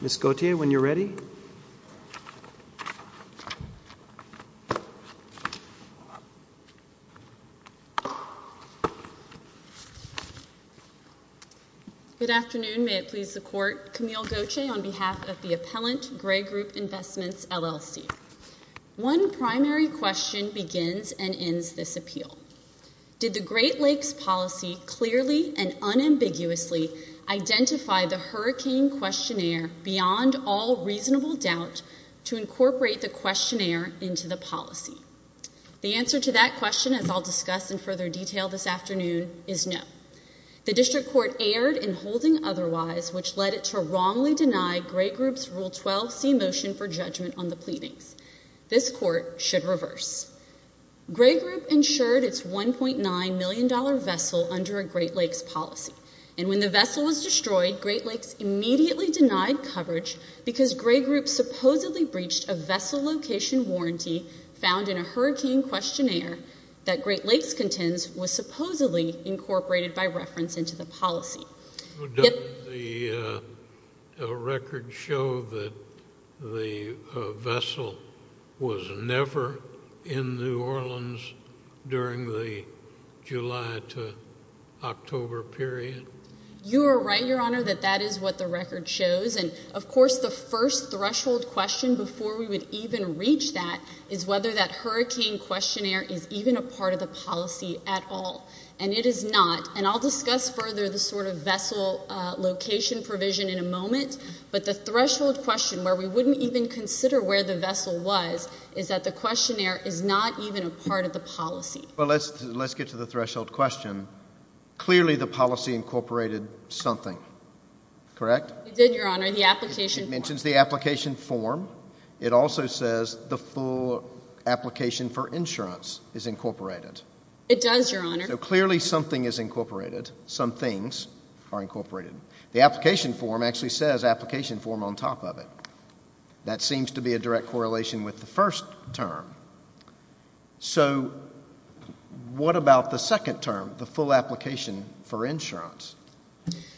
Ms. Gauthier, when you're ready. Good afternoon, may it please the Court, Camille Gauthier on behalf of the Appellant, Gray Group Investments, LLC. One primary question begins and ends this appeal. Did the Great Lakes Policy clearly and unambiguously identify the hurricane questionnaire beyond all reasonable doubt to incorporate the questionnaire into the policy? The answer to that question, as I'll discuss in further detail this afternoon, is no. The District Court erred in holding otherwise, which led it to wrongly deny Gray Group's Rule 12c motion for judgment on the pleadings. This Court should reverse. Gray Group insured its $1.9 million vessel under a Great Lakes Policy, and when the vessel was destroyed, Great Lakes immediately denied coverage because Gray Group supposedly breached a vessel location warranty found in a hurricane questionnaire that Great Lakes contends was supposedly incorporated by reference into the policy. Does the record show that the vessel was never in New Orleans during the July to October period? You are right, Your Honor, that that is what the record shows, and, of course, the first threshold question before we would even reach that is whether that hurricane questionnaire is even a part of the policy at all, and it is not. And I'll discuss further the sort of vessel location provision in a moment, but the threshold question where we wouldn't even consider where the vessel was is that the questionnaire is not even a part of the policy. Well, let's get to the threshold question. Clearly, the policy incorporated something, correct? It did, Your Honor. The application form. It mentions the application form. It also says the full application for insurance is incorporated. It does, Your Honor. So clearly something is incorporated. Some things are incorporated. The application form actually says application form on top of it. That seems to be a direct correlation with the first term. So what about the second term? The full application for insurance?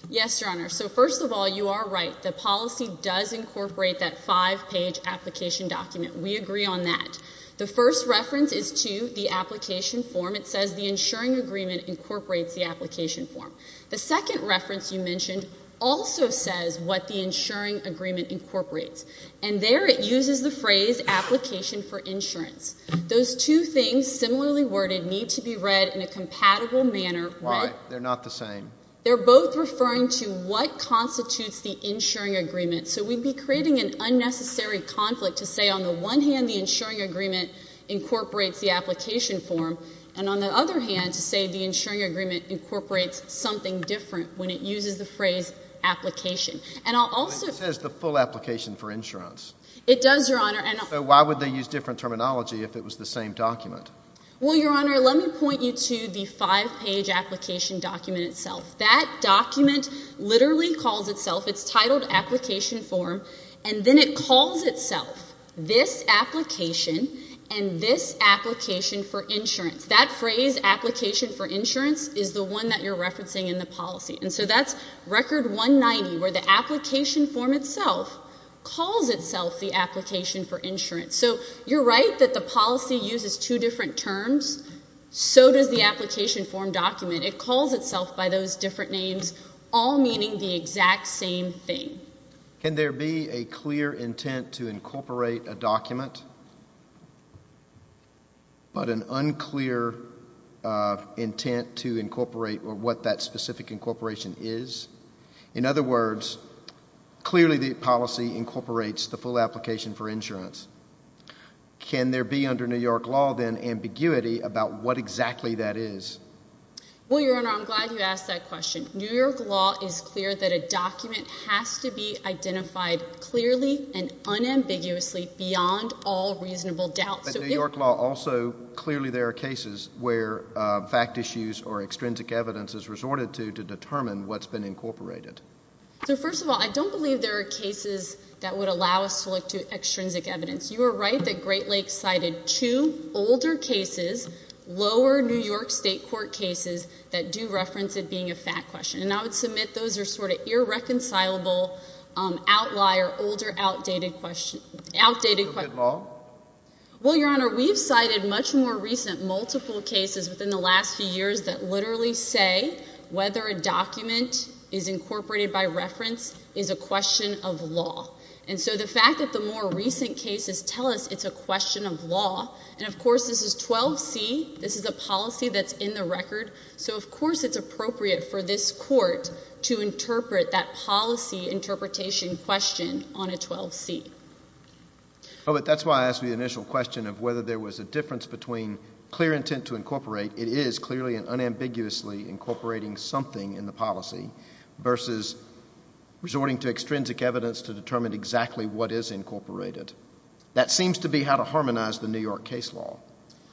Yes, Your Honor. So first of all, you are right. The policy does incorporate that five-page application document. We agree on that. The first reference is to the application form. It says the insuring agreement incorporates the application form. The second reference you mentioned also says what the insuring agreement incorporates, and there it uses the phrase application for insurance. Those two things, similarly worded, need to be read in a compatible manner. Why? They're not the same. They're both referring to what constitutes the insuring agreement. So we'd be creating an unnecessary conflict to say on the one hand the insuring agreement incorporates the application form, and on the other hand to say the insuring agreement incorporates something different when it uses the phrase application. And I'll also— It says the full application for insurance. It does, Your Honor. So why would they use different terminology if it was the same document? Well, Your Honor, let me point you to the five-page application document itself. That document literally calls itself—it's titled application form, and then it calls itself this application and this application for insurance. That phrase, application for insurance, is the one that you're referencing in the policy. And so that's record 190, where the application form itself calls itself the application for insurance. So you're right that the policy uses two different terms. So does the application form document. It calls itself by those different names, all meaning the exact same thing. Can there be a clear intent to incorporate a document, but an unclear intent to incorporate or what that specific incorporation is? In other words, clearly the policy incorporates the full application for insurance. Can there be under New York law, then, ambiguity about what exactly that is? Well, Your Honor, I'm glad you asked that question. New York law is clear that a document has to be identified clearly and unambiguously beyond all reasonable doubt. But in New York law, also, clearly there are cases where fact issues or extrinsic evidence is resorted to to determine what's been incorporated. So, first of all, I don't believe there are cases that would allow us to look to extrinsic evidence. You are right that Great Lakes cited two older cases, lower New York state court cases, that do reference it being a fact question. And I would submit those are sort of irreconcilable outlier, older outdated questions, outdated questions. Is it law? Well, Your Honor, we've cited much more recent multiple cases within the last few years that literally say whether a document is incorporated by reference is a question of law. And so the fact that the more recent cases tell us it's a question of law, and of course this is 12C, this is a policy that's in the record, so of course it's appropriate for this court to interpret that policy interpretation question on a 12C. Oh, but that's why I asked the initial question of whether there was a difference between clear intent to incorporate, it is clearly and unambiguously incorporating something in the policy, versus resorting to extrinsic evidence to determine exactly what is incorporated. That seems to be how to harmonize the New York case law.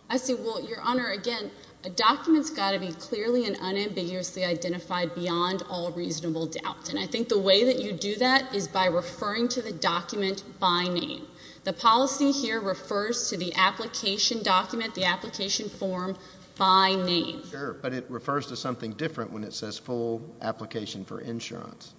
I see. Well, Your Honor, again, a document's got to be clearly and unambiguously identified beyond all reasonable doubt. And I think the way that you do that is by referring to the document by name. The policy here refers to the application document, the application form, by name. Sure, but it refers to something different when it says full application for insurance.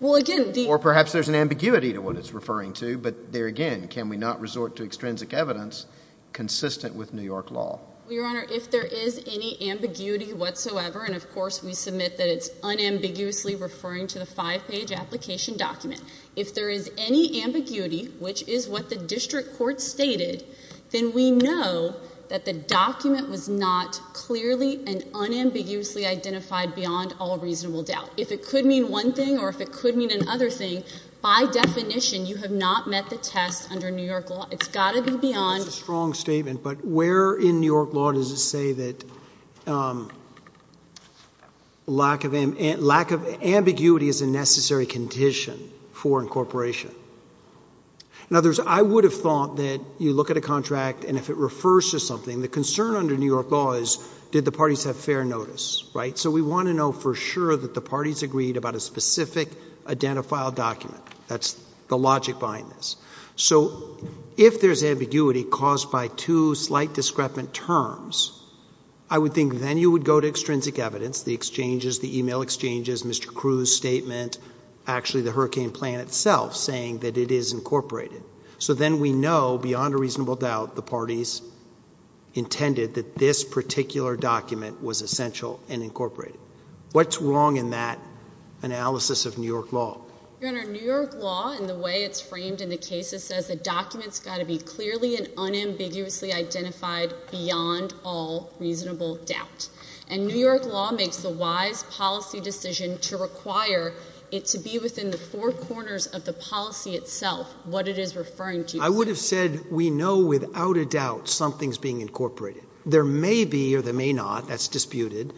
Well, again, the— Or perhaps there's an ambiguity to what it's referring to, but there again, can we not resort to extrinsic evidence consistent with New York law? Well, Your Honor, if there is any ambiguity whatsoever, and of course we submit that it's unambiguously referring to the five-page application document. If there is any ambiguity, which is what the district court stated, then we know that the document was not clearly and unambiguously identified beyond all reasonable doubt. If it could mean one thing or if it could mean another thing, by definition, you have not met the test under New York law. It's got to be beyond— That's a strong statement, but where in New York law does it say that lack of ambiguity is a necessary condition for incorporation? In other words, I would have thought that you look at a contract and if it refers to something, the concern under New York law is did the parties have fair notice, right? So we want to know for sure that the parties agreed about a specific identifiable document. That's the logic behind this. So if there's ambiguity caused by two slight discrepant terms, I would think then you would go to extrinsic evidence, the exchanges, the email exchanges, Mr. Crews' statement, actually the hurricane plan itself saying that it is incorporated. So then we know beyond a reasonable doubt the parties intended that this particular document was essential and incorporated. What's wrong in that analysis of New York law? Your Honor, New York law and the way it's framed in the cases says the document's got to be clearly and unambiguously identified beyond all reasonable doubt. And New York law makes the wise policy decision to require it to be within the four corners of the policy itself, what it is referring to. I would have said we know without a doubt something's being incorporated. There may be or there may not, that's disputed,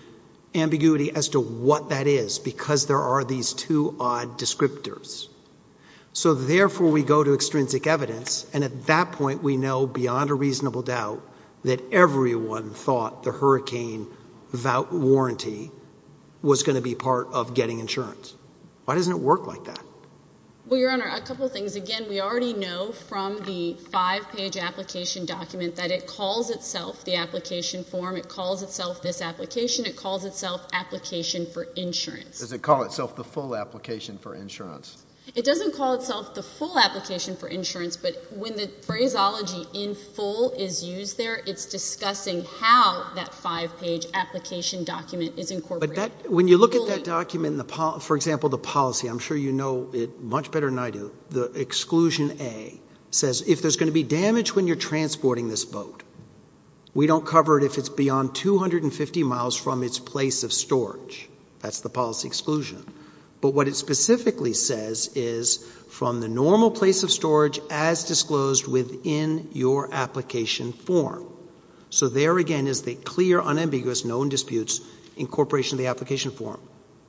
ambiguity as to what that is because there are these two odd descriptors. So therefore we go to extrinsic evidence and at that point we know beyond a reasonable doubt that everyone thought the hurricane voucher warranty was going to be part of getting insurance. Why doesn't it work like that? Well, Your Honor, a couple of things. Again, we already know from the five-page application document that it calls itself the application form, it calls itself this application, it calls itself application for insurance. Does it call itself the full application for insurance? It doesn't call itself the full application for insurance, but when the phraseology in full is used there, it's discussing how that five-page application document is incorporated. When you look at that document, for example, the policy, I'm sure you know it much better than I do, the exclusion A says if there's going to be damage when you're transporting this boat, we don't cover it if it's beyond 250 miles from its place of storage. That's the policy exclusion. But what it specifically says is from the normal place of storage as disclosed within your application form. So there again is the clear, unambiguous, known disputes incorporation of the application form.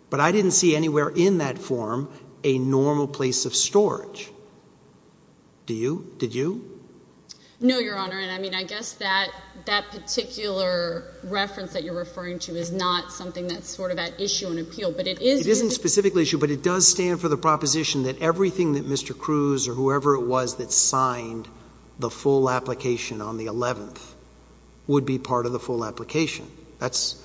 But I didn't see anywhere in that form a normal place of storage. Do you? Did you? No, Your Honor. I mean, I guess that particular reference that you're referring to is not something that's sort of at issue in appeal, but it is... It isn't specifically at issue, but it does stand for the proposition that everything that Mr. Cruz or whoever it was that signed the full application on the 11th would be part of the full application. That's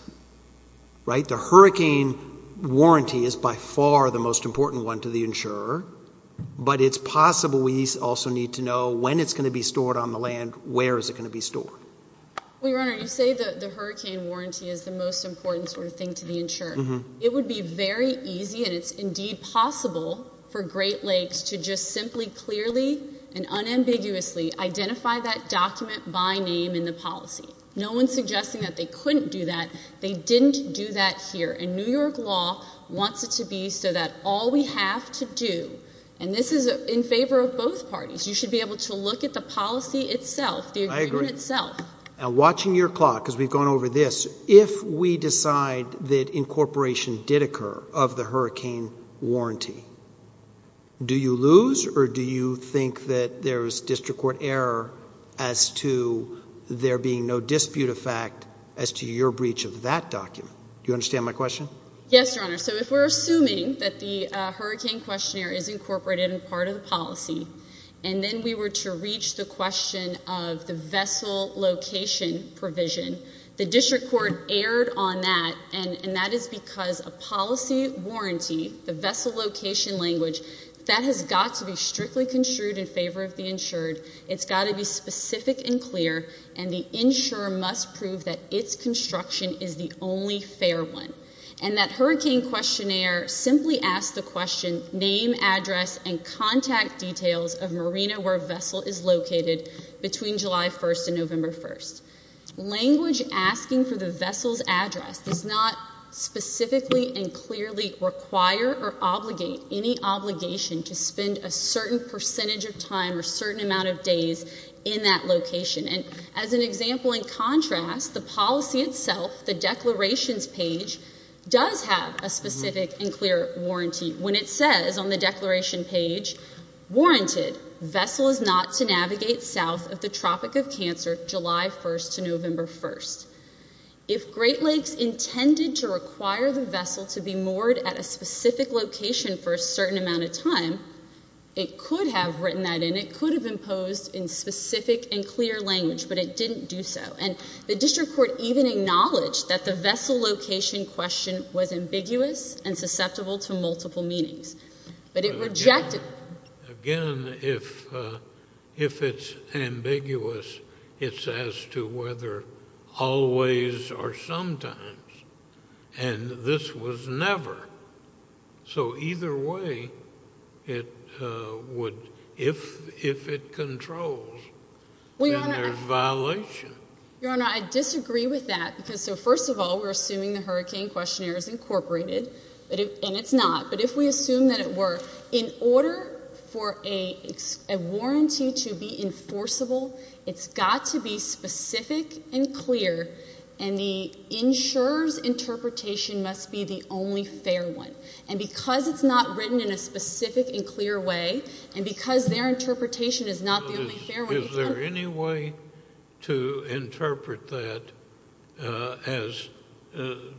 right. The hurricane warranty is by far the most important one to the insurer, but it's possible we also need to know when it's going to be stored on the land, where is it going to be stored. Well, Your Honor, you say the hurricane warranty is the most important sort of thing to the insurer. It would be very easy, and it's indeed possible for Great Lakes to just simply clearly and unambiguously identify that document by name in the policy. No one's suggesting that they couldn't do that. They didn't do that here, and New York law wants it to be so that all we have to do, and this is in favor of both parties, you should be able to look at the policy itself, the agreement itself. I agree. Now, watching your clock, because we've gone over this, if we decide that incorporation did occur of the hurricane warranty, do you lose or do you think that there's district court error as to there being no dispute of fact as to your breach of that document? Do you understand my question? Yes, Your Honor. So if we're assuming that the hurricane questionnaire is incorporated in part of the policy, and then we were to reach the question of the vessel location provision, the district court erred on that, and that is because a policy warranty, the vessel location language, that has got to be strictly construed in favor of the insured. It's got to be specific and clear, and the insurer must prove that its construction is the only fair one. And that hurricane questionnaire simply asked the question, name, address, and contact details of marina where vessel is located between July 1st and November 1st. Language asking for the vessel's address does not specifically and clearly require or obligate any obligation to spend a certain percentage of time or certain amount of days in that location. And as an example, in contrast, the policy itself, the declarations page, does have a it. Vessel is not to navigate south of the Tropic of Cancer July 1st to November 1st. If Great Lakes intended to require the vessel to be moored at a specific location for a certain amount of time, it could have written that in. It could have imposed in specific and clear language, but it didn't do so. And the district court even acknowledged that the vessel location question was ambiguous and susceptible to multiple meanings. But it rejected... Again, if it's ambiguous, it's as to whether always or sometimes. And this was never. So either way, it would, if it controls, then there's violation. Your Honor, I disagree with that because, so first of all, we're assuming the hurricane questionnaire is incorporated, and it's not. But if we assume that it were, in order for a warranty to be enforceable, it's got to be specific and clear, and the insurer's interpretation must be the only fair one. And because it's not written in a specific and clear way, and because their interpretation is not the only fair one... Is there any way to interpret that as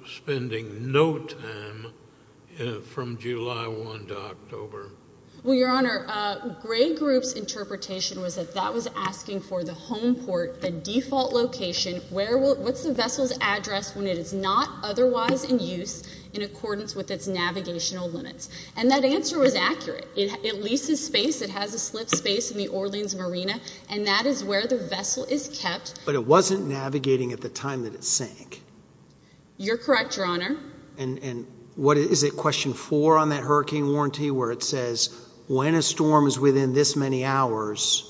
spending no time from July 1 to October? Well, Your Honor, Gray Group's interpretation was that that was asking for the home port, the default location, what's the vessel's address when it is not otherwise in use in accordance with its navigational limits. And that answer was accurate. It leases space. It has a slip space in the Orleans Marina, and that is where the vessel is kept. But it wasn't navigating at the time that it sank. You're correct, Your Honor. And what is it, question four on that hurricane warranty, where it says, when a storm is within this many hours,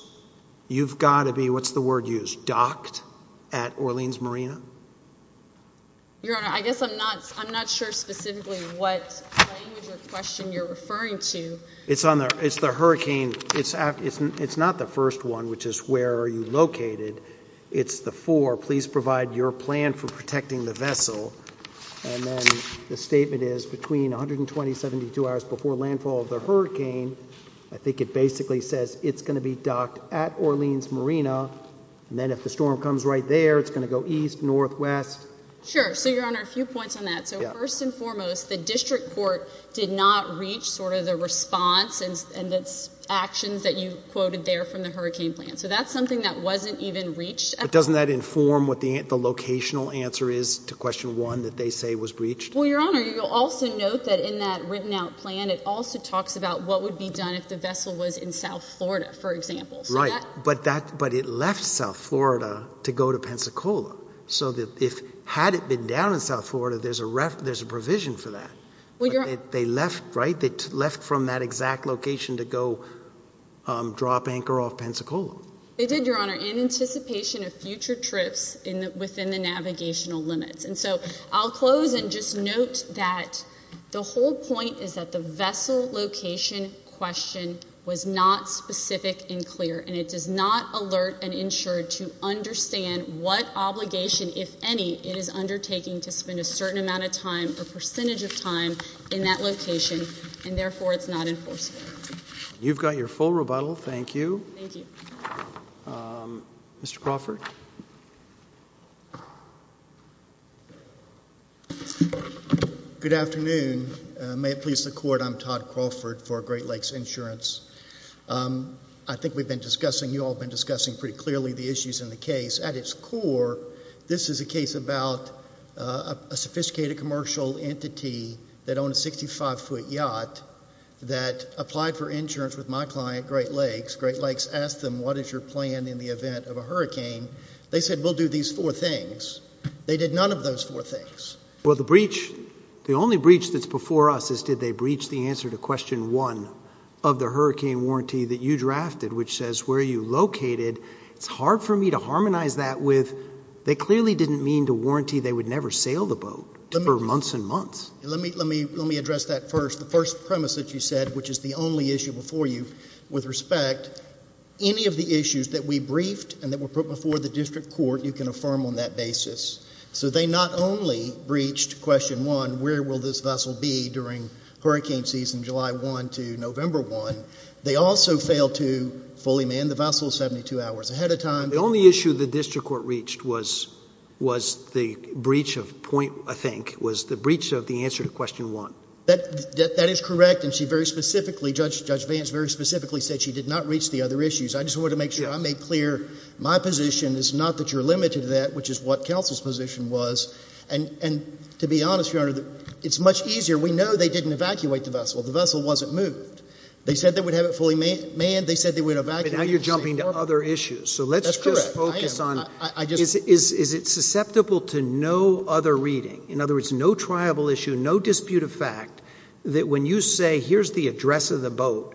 you've got to be, what's the word used, docked at Orleans Marina? Your Honor, I guess I'm not sure specifically what language or question you're referring to. It's the hurricane. It's not the first one, which is where are you located. It's the four, please provide your plan for protecting the vessel, and then the statement is between 120 and 72 hours before landfall of the hurricane, I think it basically says it's going to be docked at Orleans Marina, and then if the storm comes right there, it's going to go east, northwest. Sure. So, Your Honor, a few points on that. So, first and foremost, the district court did not reach sort of the response and its actions that you quoted there from the hurricane plan, so that's something that wasn't even reached. But doesn't that inform what the locational answer is to question one that they say was breached? Well, Your Honor, you'll also note that in that written out plan, it also talks about what would be done if the vessel was in South Florida, for example. Right, but it left South Florida to go to Pensacola, so that if, had it been down in South Florida, there's a provision for that. They left, right? They left from that exact location to go drop anchor off Pensacola. They did, Your Honor, in anticipation of future trips within the navigational limits. And so, I'll close and just note that the whole point is that the vessel location question was not specific and clear, and it does not alert and ensure to understand what obligation, if any, it is undertaking to spend a certain amount of time, a percentage of time, in that location, and therefore, it's not enforceable. You've got your full rebuttal. Thank you. Thank you. Mr. Crawford? Good afternoon. May it please the Court, I'm Todd Crawford for Great Lakes Insurance. I think we've been discussing, you all have been discussing pretty clearly the issues in the case. At its core, this is a case about a sophisticated commercial entity that owned a 65-foot yacht that applied for insurance with my client, Great Lakes. Great Lakes asked them, what is your plan in the event of a hurricane? They said, we'll do these four things. They did none of those four things. Well, the breach, the only breach that's before us is, did they breach the answer to question one of the hurricane warranty that you drafted, which says, where are you located? It's hard for me to harmonize that with, they clearly didn't mean to warranty they would never sail the boat for months and months. Let me address that first. The first premise that you said, which is the only issue before you, with respect, any of the issues that we briefed and that were put before the district court, you can affirm on that basis. So, they not only breached question one, where will this vessel be during hurricane season July 1 to November 1. They also failed to fully man the vessel 72 hours ahead of time. The only issue the district court reached was, was the breach of point, I think, was the breach of the answer to question one. That is correct. And she very specifically, Judge Vance very specifically said she did not reach the other issues. I just want to make sure I make clear my position is not that you're limited to that, which is what counsel's position was. And to be honest, your honor, it's much easier. We know they didn't evacuate the vessel. The vessel wasn't moved. They said they would have it fully manned. They said they would evacuate. But now you're jumping to other issues. So let's just focus on, is it susceptible to no other reading? In other words, no triable issue, no dispute of fact, that when you say, here's the address of the boat,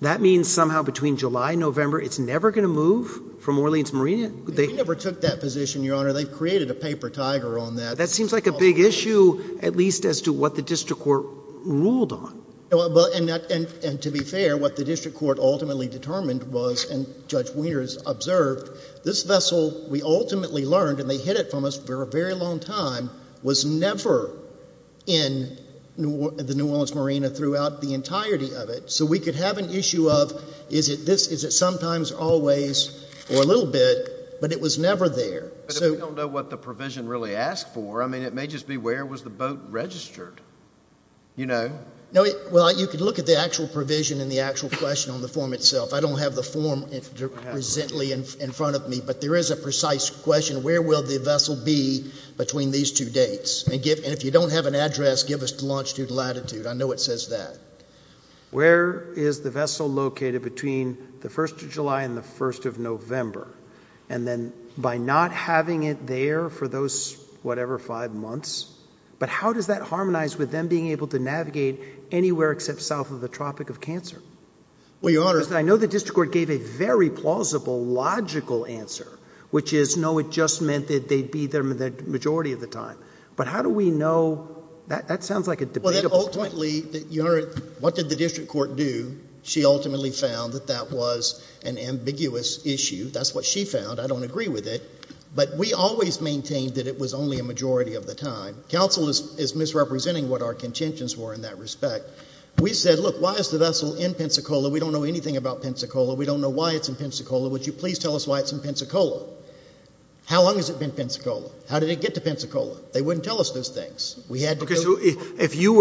that means somehow between July and November, it's never going to move from Orleans Marina? They never took that position, your honor. They've created a paper tiger on that. That seems like a big issue, at least as to what the district court ruled on. And to be fair, what the district court ultimately determined was, and Judge Wieners observed, this vessel, we ultimately learned, and they hid it from us for a very long time, was never in the New Orleans Marina throughout the entirety of it. So we could have an issue of, is it this, is it sometimes, always, or a little bit, but it was never there. But if we don't know what the provision really asked for, I mean, it may just be, where was the boat registered? You know? Well, you could look at the actual provision and the actual question on the form itself. I don't have the form presently in front of me, but there is a precise question, where will the vessel be between these two dates? And if you don't have an address, give us the longitude and latitude. I know it says that. Where is the vessel located between the first of July and the first of November? And then, by not having it there for those, whatever, five months, but how does that harmonize with them being able to navigate anywhere except south of the Tropic of Cancer? Well, Your Honor... Because I know the district court gave a very plausible, logical answer, which is, no, it just meant that they'd be there the majority of the time. But how do we know... that sounds like a debatable... Well, then ultimately, Your Honor, what did the district court do? She ultimately found that that was an ambiguous issue. That's what she found. I don't agree with it. But we always maintained that it was only a majority of the time. Counsel is misrepresenting what our contentions were in that respect. We said, look, why is the vessel in Pensacola? We don't know anything about Pensacola. We don't know why it's in Pensacola. Would you please tell us why it's in Pensacola? How long has it been Pensacola? How did it get to Pensacola? They wouldn't tell us those things. We had to go... Okay, so if you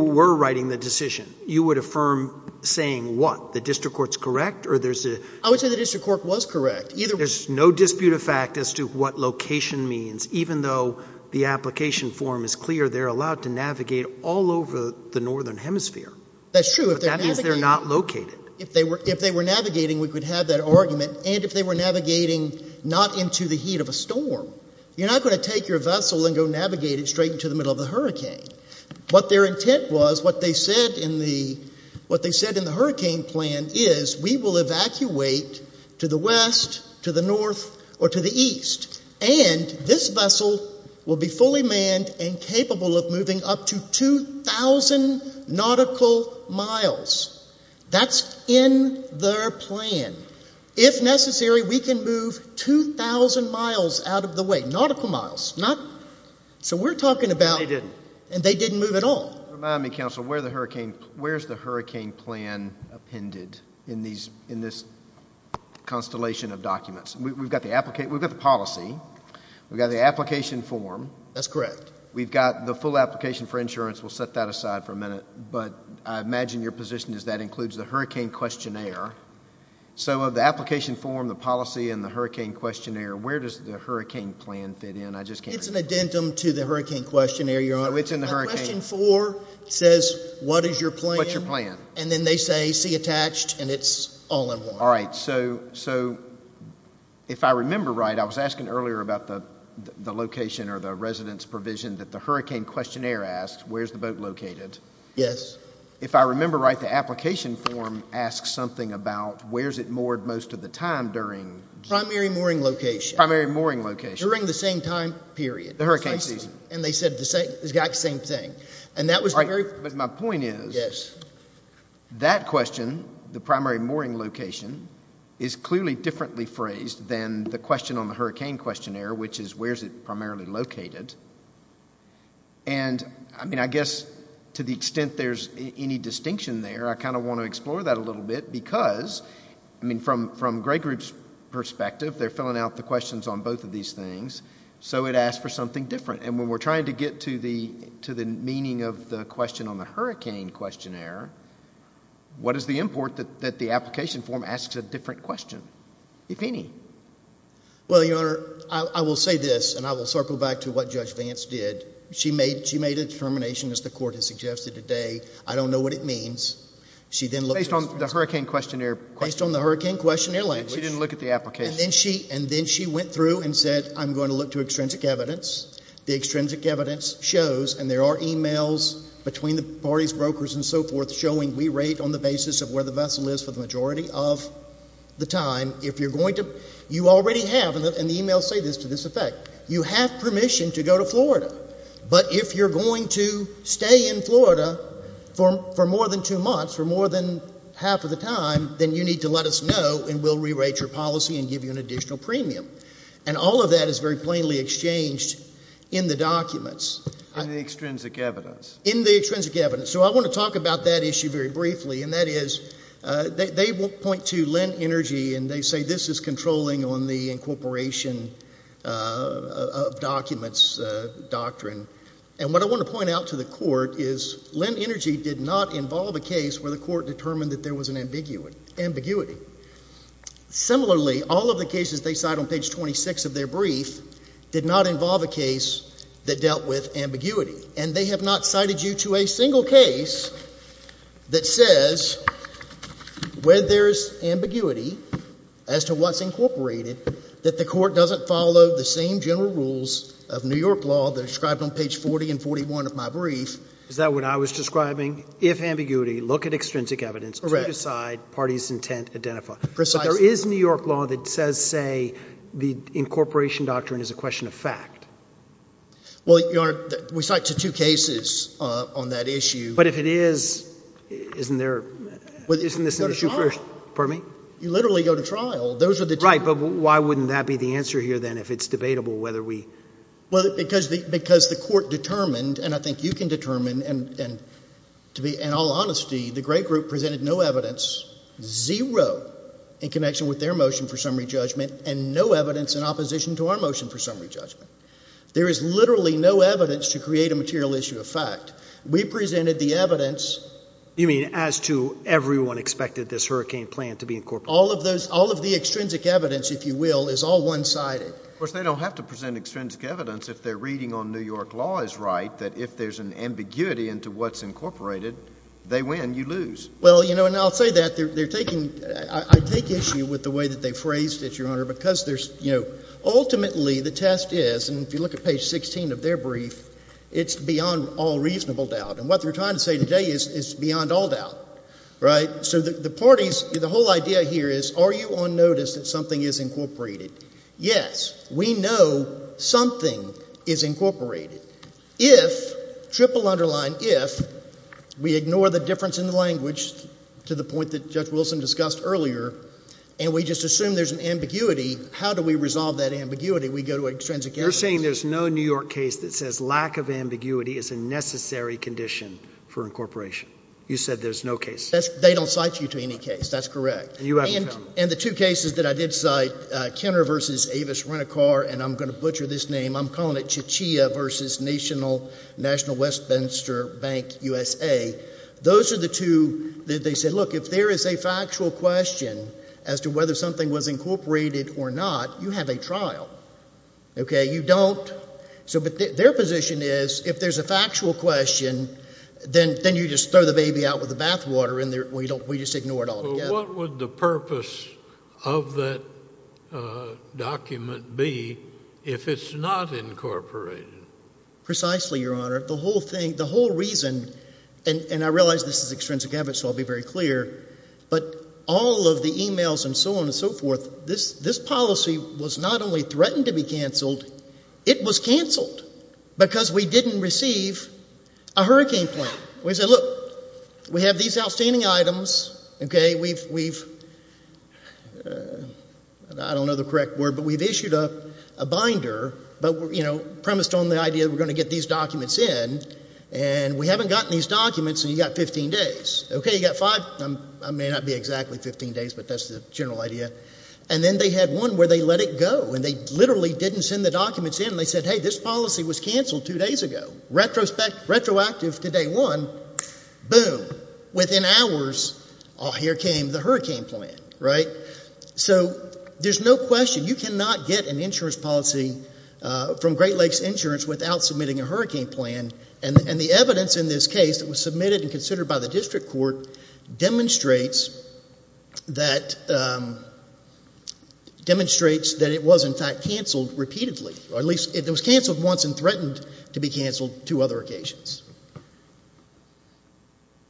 were writing the decision, you would affirm saying what? The district court's correct, or there's a... I would say the district court was correct. There's no dispute of fact as to what location means. Even though the application form is clear, they're allowed to navigate all over the northern hemisphere. That's true. But that means they're not located. If they were navigating, we could have that argument. And if they were navigating not into the heat of a storm, you're not going to take your vessel and go navigate it straight into the middle of the hurricane. What their intent was, what they said in the hurricane plan is, we will evacuate to the west, to the north, or to the east. And this vessel will be fully manned and capable of moving up to 2,000 nautical miles. That's in their plan. If necessary, we can move 2,000 miles out of the way, nautical miles. So we're talking about... They didn't move at all. Remind me, counsel, where's the hurricane plan appended in this constellation of documents? We've got the policy, we've got the application form. That's correct. We've got the full application for insurance. We'll set that aside for a minute. But I imagine your position is that includes the hurricane questionnaire. So of the application form, the policy, and the hurricane questionnaire, where does the hurricane plan fit in? It's an addendum to the hurricane questionnaire, Your Honor. So it's in the hurricane... The question four says, what is your plan, and then they say, see attached, and it's all in one. All right. So if I remember right, I was asking earlier about the location or the residence provision that the hurricane questionnaire asks, where's the boat located? Yes. If I remember right, the application form asks something about where's it moored most of the time during... Primary mooring location. Primary mooring location. During the same time period. The hurricane season. And they said the exact same thing. And that was the very... But my point is... Yes. That question, the primary mooring location, is clearly differently phrased than the question on the hurricane questionnaire, which is, where's it primarily located? And I mean, I guess to the extent there's any distinction there, I kind of want to explore that a little bit because, I mean, from Gray Group's perspective, they're filling out the questions on both of these things. So it asks for something different. And when we're trying to get to the meaning of the question on the hurricane questionnaire, what is the import that the application form asks a different question, if any? Well, Your Honor, I will say this, and I will circle back to what Judge Vance did. She made a determination, as the court has suggested today, I don't know what it means. She then looked... Based on the hurricane questionnaire... Based on the hurricane questionnaire language... She didn't look at the application. And then she went through and said, I'm going to look to extrinsic evidence. The extrinsic evidence shows, and there are emails between the parties, brokers, and so forth, showing we rate on the basis of where the vessel is for the majority of the time. If you're going to... You already have, and the emails say this, to this effect. You have permission to go to Florida, but if you're going to stay in Florida for more than two months, for more than half of the time, then you need to let us know and we'll give you an additional premium. And all of that is very plainly exchanged in the documents. In the extrinsic evidence. In the extrinsic evidence. So I want to talk about that issue very briefly, and that is, they point to Lend Energy, and they say this is controlling on the incorporation of documents doctrine. And what I want to point out to the court is Lend Energy did not involve a case where the court determined that there was an ambiguity. Similarly, all of the cases they cite on page 26 of their brief did not involve a case that dealt with ambiguity. And they have not cited you to a single case that says where there's ambiguity as to what's incorporated that the court doesn't follow the same general rules of New York law that are described on page 40 and 41 of my brief. Is that what I was describing? If ambiguity, look at extrinsic evidence to decide party's intent, identify. But there is New York law that says, say, the incorporation doctrine is a question of fact. Well, Your Honor, we cite to two cases on that issue. But if it is, isn't there, isn't this an issue for, pardon me? You literally go to trial. Those are the two. Right. But why wouldn't that be the answer here, then, if it's debatable whether we. Well, because the court determined, and I think you can determine and to be in all honesty, the Gray Group presented no evidence, zero in connection with their motion for summary judgment and no evidence in opposition to our motion for summary judgment. There is literally no evidence to create a material issue of fact. We presented the evidence. You mean as to everyone expected this hurricane plan to be incorporated? All of those, all of the extrinsic evidence, if you will, is all one sided. Of course, they don't have to present extrinsic evidence if their reading on New York law is right, that if there's an ambiguity into what's incorporated, they win, you lose. Well, you know, and I'll say that they're taking, I take issue with the way that they phrased it, Your Honor, because there's, you know, ultimately the test is, and if you look at page 16 of their brief, it's beyond all reasonable doubt. And what they're trying to say today is it's beyond all doubt, right? So the parties, the whole idea here is, are you on notice that something is incorporated? Yes. We know something is incorporated if, triple underline if, we ignore the difference in the language to the point that Judge Wilson discussed earlier, and we just assume there's an ambiguity, how do we resolve that ambiguity? We go to extrinsic evidence. You're saying there's no New York case that says lack of ambiguity is a necessary condition for incorporation. You said there's no case. That's, they don't cite you to any case. That's correct. And you haven't found one. And the two cases that I did cite, Kenner v. Avis Rent-a-Car, and I'm going to butcher this name, I'm calling it Chichia v. National Westminster Bank, USA. Those are the two that they said, look, if there is a factual question as to whether something was incorporated or not, you have a trial, okay? You don't, so, but their position is, if there's a factual question, then you just throw the baby out with the bathwater, and we just ignore it all together. But what would the purpose of that document be if it's not incorporated? Precisely, Your Honor. The whole thing, the whole reason, and I realize this is extrinsic evidence, so I'll be very clear, but all of the emails and so on and so forth, this policy was not only threatened to be canceled, it was canceled because we didn't receive a hurricane plan. We said, look, we have these outstanding items, okay, we've, we've, I don't know the correct word, but we've issued a binder, but, you know, premised on the idea that we're going to get these documents in, and we haven't gotten these documents, and you've got 15 days. Okay, you've got five, I may not be exactly 15 days, but that's the general idea. And then they had one where they let it go, and they literally didn't send the documents in, and they said, hey, this policy was canceled two days ago. Retrospect, retroactive to day one, boom, within hours, oh, here came the hurricane plan, right? So there's no question, you cannot get an insurance policy from Great Lakes Insurance without submitting a hurricane plan, and the evidence in this case that was submitted and considered by the district court demonstrates that, demonstrates that it was, in fact, canceled repeatedly. Or at least, it was canceled once and threatened to be canceled two other occasions.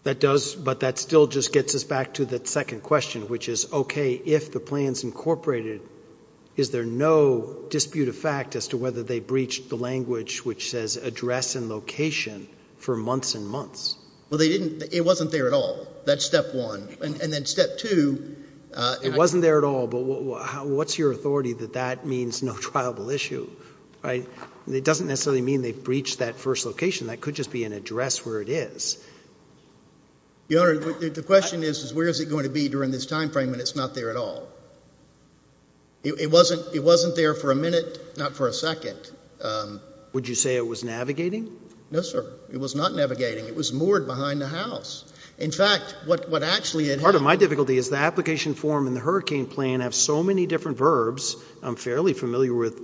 That does, but that still just gets us back to that second question, which is, okay, if the plan's incorporated, is there no dispute of fact as to whether they breached the language which says address and location for months and months? Well, they didn't, it wasn't there at all. That's step one. And then step two, it wasn't there at all, but what's your authority that that means no triable issue, right? It doesn't necessarily mean they breached that first location, that could just be an address where it is. Your Honor, the question is, is where is it going to be during this time frame when it's not there at all? It wasn't, it wasn't there for a minute, not for a second. Would you say it was navigating? No, sir. It was not navigating. It was moored behind the house. In fact, what actually had happened— Part of my difficulty is the application form and the hurricane plan have so many different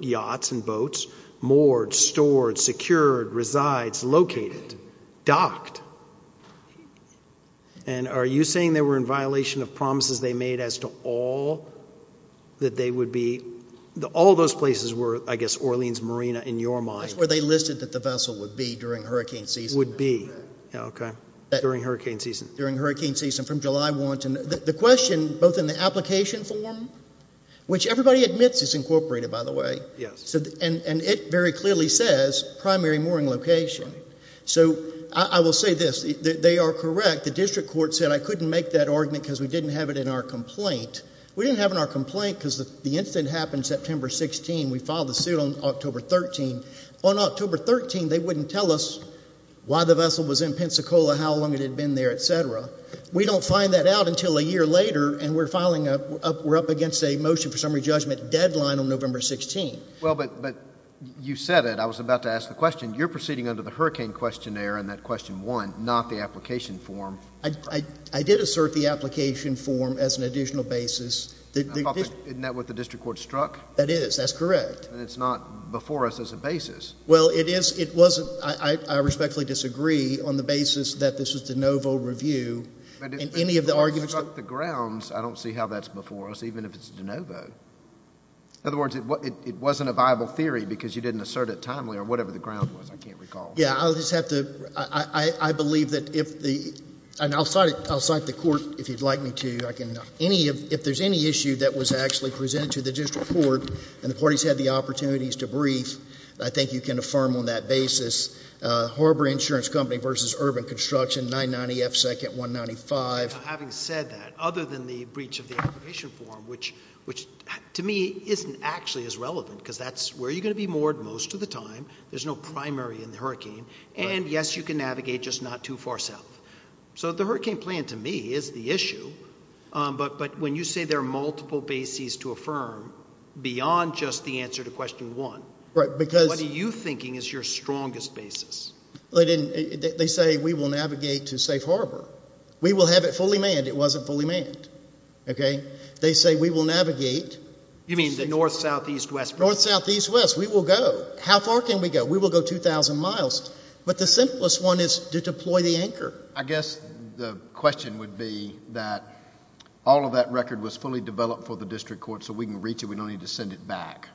yachts and boats, moored, stored, secured, resides, located, docked. And are you saying they were in violation of promises they made as to all that they would be—all those places were, I guess, Orleans Marina in your mind? That's where they listed that the vessel would be during hurricane season. Would be, okay, during hurricane season. During hurricane season from July 1 to—the question, both in the application form, which Everybody admits it's incorporated, by the way. And it very clearly says primary mooring location. So I will say this. They are correct. The district court said I couldn't make that argument because we didn't have it in our complaint. We didn't have it in our complaint because the incident happened September 16. We filed the suit on October 13. On October 13, they wouldn't tell us why the vessel was in Pensacola, how long it had been there, etc. We don't find that out until a year later and we're filing a—we're up against a motion for summary judgment deadline on November 16. Well, but you said it. I was about to ask the question. You're proceeding under the hurricane questionnaire in that question one, not the application form. I did assert the application form as an additional basis. Isn't that what the district court struck? That is. That's correct. And it's not before us as a basis. Well, it is—it wasn't—I respectfully disagree on the basis that this was de novo review and any of the arguments— If you struck the grounds, I don't see how that's before us, even if it's de novo. In other words, it wasn't a viable theory because you didn't assert it timely or whatever the ground was. I can't recall. Yeah. I'll just have to—I believe that if the—and I'll cite it—I'll cite the court if you'd like me to. I can—any of—if there's any issue that was actually presented to the district court and the parties had the opportunities to brief, I think you can affirm on that basis, Harbor Insurance Company v. Urban Construction, 990 F. 2nd, 195. Now, having said that, other than the breach of the application form, which to me isn't actually as relevant, because that's where you're going to be moored most of the time. There's no primary in the hurricane. And yes, you can navigate, just not too far south. So the hurricane plan to me is the issue, but when you say there are multiple bases to affirm beyond just the answer to question one, what are you thinking is your strongest basis? Well, they didn't—they say we will navigate to safe harbor. We will have it fully manned. It wasn't fully manned, okay? They say we will navigate— You mean the north, south, east, west— North, south, east, west. We will go. How far can we go? We will go 2,000 miles. But the simplest one is to deploy the anchor. I guess the question would be that all of that record was fully developed for the district court so we can reach it. We don't need to send it back.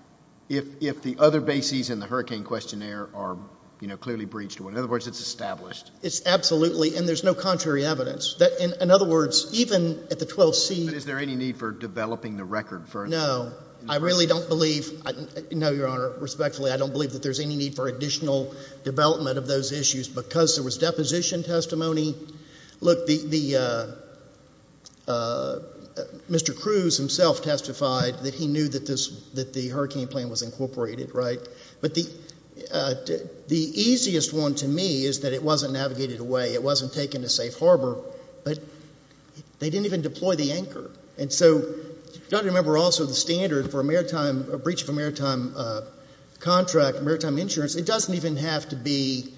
If the other bases in the hurricane questionnaire are, you know, clearly breached, in other words, it's established. It's absolutely. And there's no contrary evidence. In other words, even at the 12th scene— But is there any need for developing the record for— No. I really don't believe—no, Your Honor, respectfully, I don't believe that there's any need for additional development of those issues because there was deposition testimony. Look, the—Mr. Cruz himself testified that he knew that this—that the hurricane plan was incorporated, right? But the easiest one to me is that it wasn't navigated away. It wasn't taken to safe harbor, but they didn't even deploy the anchor. And so you've got to remember also the standard for a maritime—a breach of a maritime contract, maritime insurance, it doesn't even have to be—it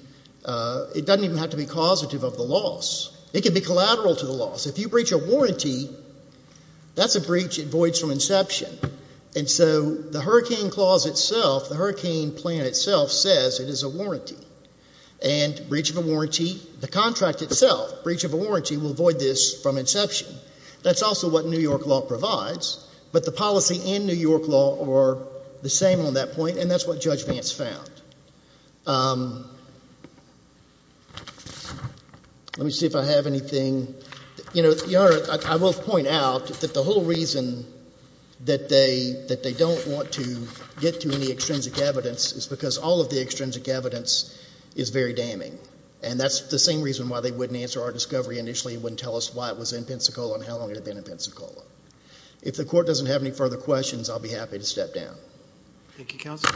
doesn't even have to be causative of the loss. It can be collateral to the loss. If you breach a warranty, that's a breach that voids from inception. And so the hurricane clause itself, the hurricane plan itself says it is a warranty. And breach of a warranty, the contract itself, breach of a warranty, will void this from inception. That's also what New York law provides. But the policy and New York law are the same on that point, and that's what Judge Vance found. Let me see if I have anything—You know, Your Honor, I will point out that the whole reason that they—that they don't want to get to any extrinsic evidence is because all of the extrinsic evidence is very damning. And that's the same reason why they wouldn't answer our discovery initially, wouldn't tell us why it was in Pensacola and how long it had been in Pensacola. If the Court doesn't have any further questions, I'll be happy to step down. Thank you, Counsel.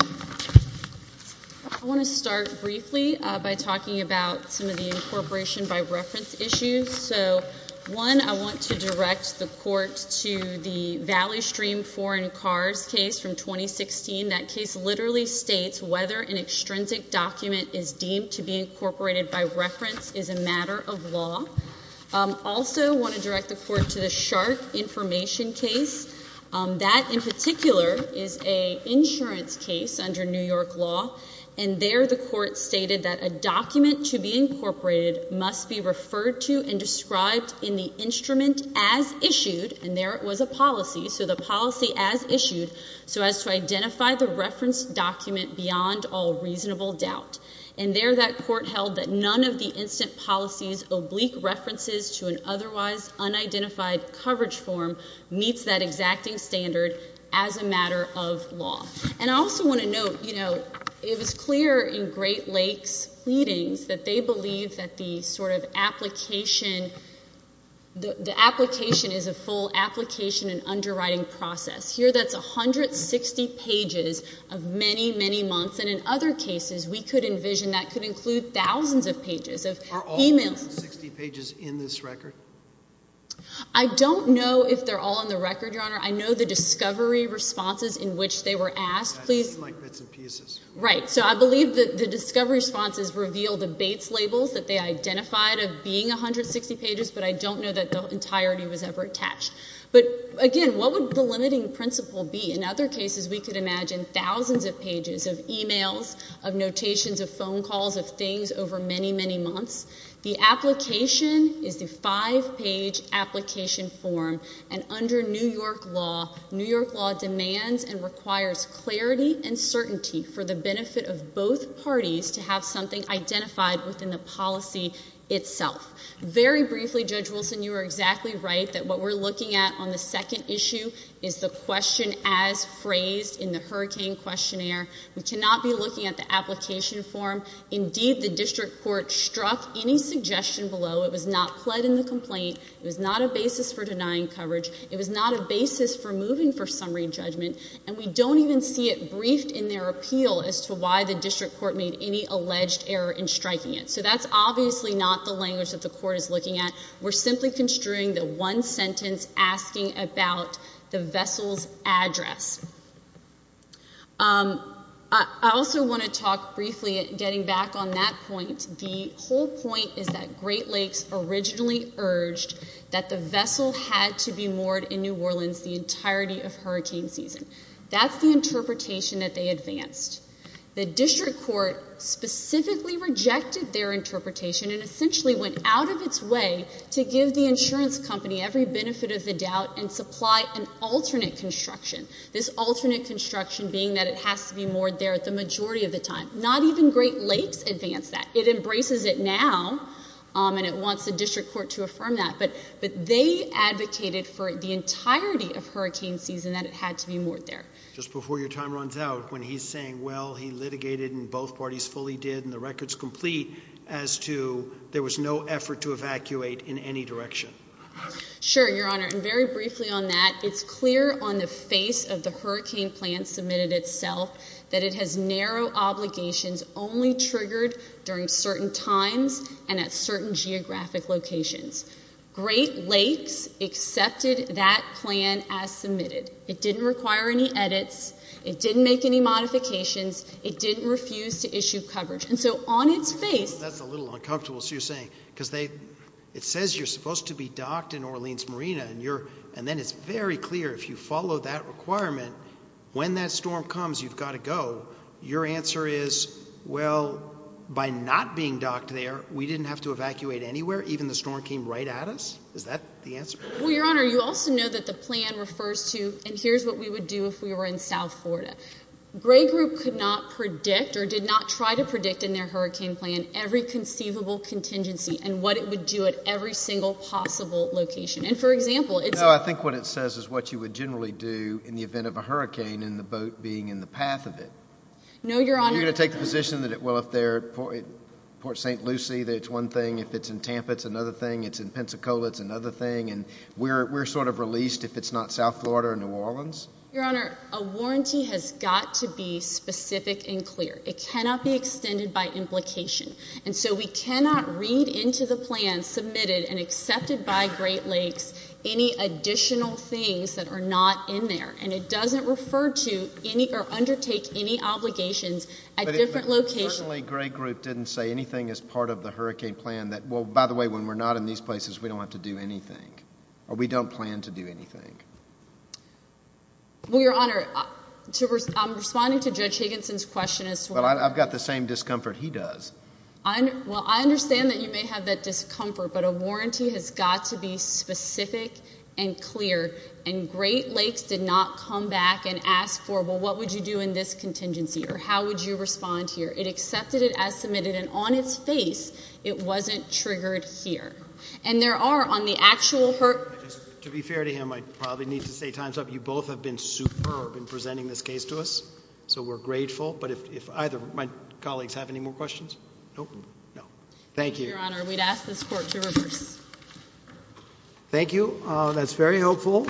I want to start briefly by talking about some of the incorporation by reference issues. So, one, I want to direct the Court to the Valley Stream foreign cars case from 2016. That case literally states whether an extrinsic document is deemed to be incorporated by reference is a matter of law. Also want to direct the Court to the shark information case. That in particular is an insurance case under New York law, and there the Court stated that a document to be incorporated must be referred to and described in the instrument as issued, and there it was a policy, so the policy as issued, so as to identify the reference document beyond all reasonable doubt. And there that Court held that none of the instant policy's oblique references to an otherwise unidentified coverage form meets that exacting standard as a matter of law. And I also want to note, you know, it was clear in Great Lakes pleadings that they believe that the sort of application, the application is a full application and underwriting process. Here that's 160 pages of many, many months, and in other cases we could envision that could include thousands of pages of emails. Are all 160 pages in this record? I don't know if they're all in the record, Your Honor. I know the discovery responses in which they were asked. Please. Like bits and pieces. Right, so I believe that the discovery responses reveal the Bates labels that they identified of being 160 pages, but I don't know that the entirety was ever attached. But again, what would the limiting principle be? In other cases, we could imagine thousands of pages of emails, of notations, of phone calls, of things over many, many months. The application is the five page application form and under New York law, New York law demands and requires clarity and certainty for the benefit of both parties to have something identified within the policy itself. Very briefly, Judge Wilson, you are exactly right that what we're looking at on the second issue is the question as phrased in the hurricane questionnaire. We cannot be looking at the application form. Indeed, the district court struck any suggestion below. It was not pled in the complaint. It was not a basis for denying coverage. It was not a basis for moving for summary judgment. And we don't even see it briefed in their appeal as to why the district court made any alleged error in striking it. So that's obviously not the language that the court is looking at. We're simply construing the one sentence asking about the vessel's address. I also want to talk briefly, getting back on that point, the whole point is that Great Lakes originally urged that the vessel had to be moored in New Orleans the entirety of hurricane season. That's the interpretation that they advanced. The district court specifically rejected their interpretation and essentially went out of its way to give the insurance company every benefit of the doubt and supply an alternate construction. This alternate construction being that it has to be moored there the majority of the time. Not even Great Lakes advanced that. It embraces it now, and it wants the district court to affirm that. But they advocated for the entirety of hurricane season that it had to be moored there. Just before your time runs out, when he's saying, well, he litigated and both parties fully did and the record's complete as to there was no effort to evacuate in any direction. Sure, your honor, and very briefly on that, it's clear on the face of the hurricane plan submitted itself that it has narrow obligations only triggered during certain times and at certain geographic locations. Great Lakes accepted that plan as submitted. It didn't require any edits. It didn't make any modifications. It didn't refuse to issue coverage. And so on its face- That's a little uncomfortable, what you're saying, because it says you're supposed to be docked in Orleans Marina, and then it's very clear if you follow that requirement, when that storm comes, you've got to go. Your answer is, well, by not being docked there, we didn't have to evacuate anywhere. Even the storm came right at us? Is that the answer? Well, your honor, you also know that the plan refers to, and here's what we would do if we were in South Florida. Gray Group could not predict or did not try to predict in their hurricane plan every conceivable contingency and what it would do at every single possible location. And for example, it's- No, I think what it says is what you would generally do in the event of a hurricane and the boat being in the path of it. No, your honor- You're going to take the position that, well, if they're at Port St. Lucy, that's one thing. If it's in Tampa, it's another thing. If it's in Pensacola, it's another thing. And we're sort of released if it's not South Florida or New Orleans? Your honor, a warranty has got to be specific and clear. It cannot be extended by implication. And so we cannot read into the plan submitted and accepted by Great Lakes any additional things that are not in there. And it doesn't refer to any or undertake any obligations at different locations. But if the Great Lakes Group didn't say anything as part of the hurricane plan that, well, by the way, when we're not in these places, we don't have to do anything or we don't plan to do anything. Well, your honor, I'm responding to Judge Higginson's question as to why- But I've got the same discomfort he does. Well, I understand that you may have that discomfort, but a warranty has got to be specific and clear. And Great Lakes did not come back and ask for, well, what would you do in this contingency? Or how would you respond here? It accepted it as submitted, and on its face, it wasn't triggered here. And there are, on the actual- To be fair to him, I probably need to say time's up. You both have been superb in presenting this case to us, so we're grateful. But if either of my colleagues have any more questions? Nope, no. Thank you. Thank you, your honor. We'd ask this court to reverse. Thank you, that's very helpful.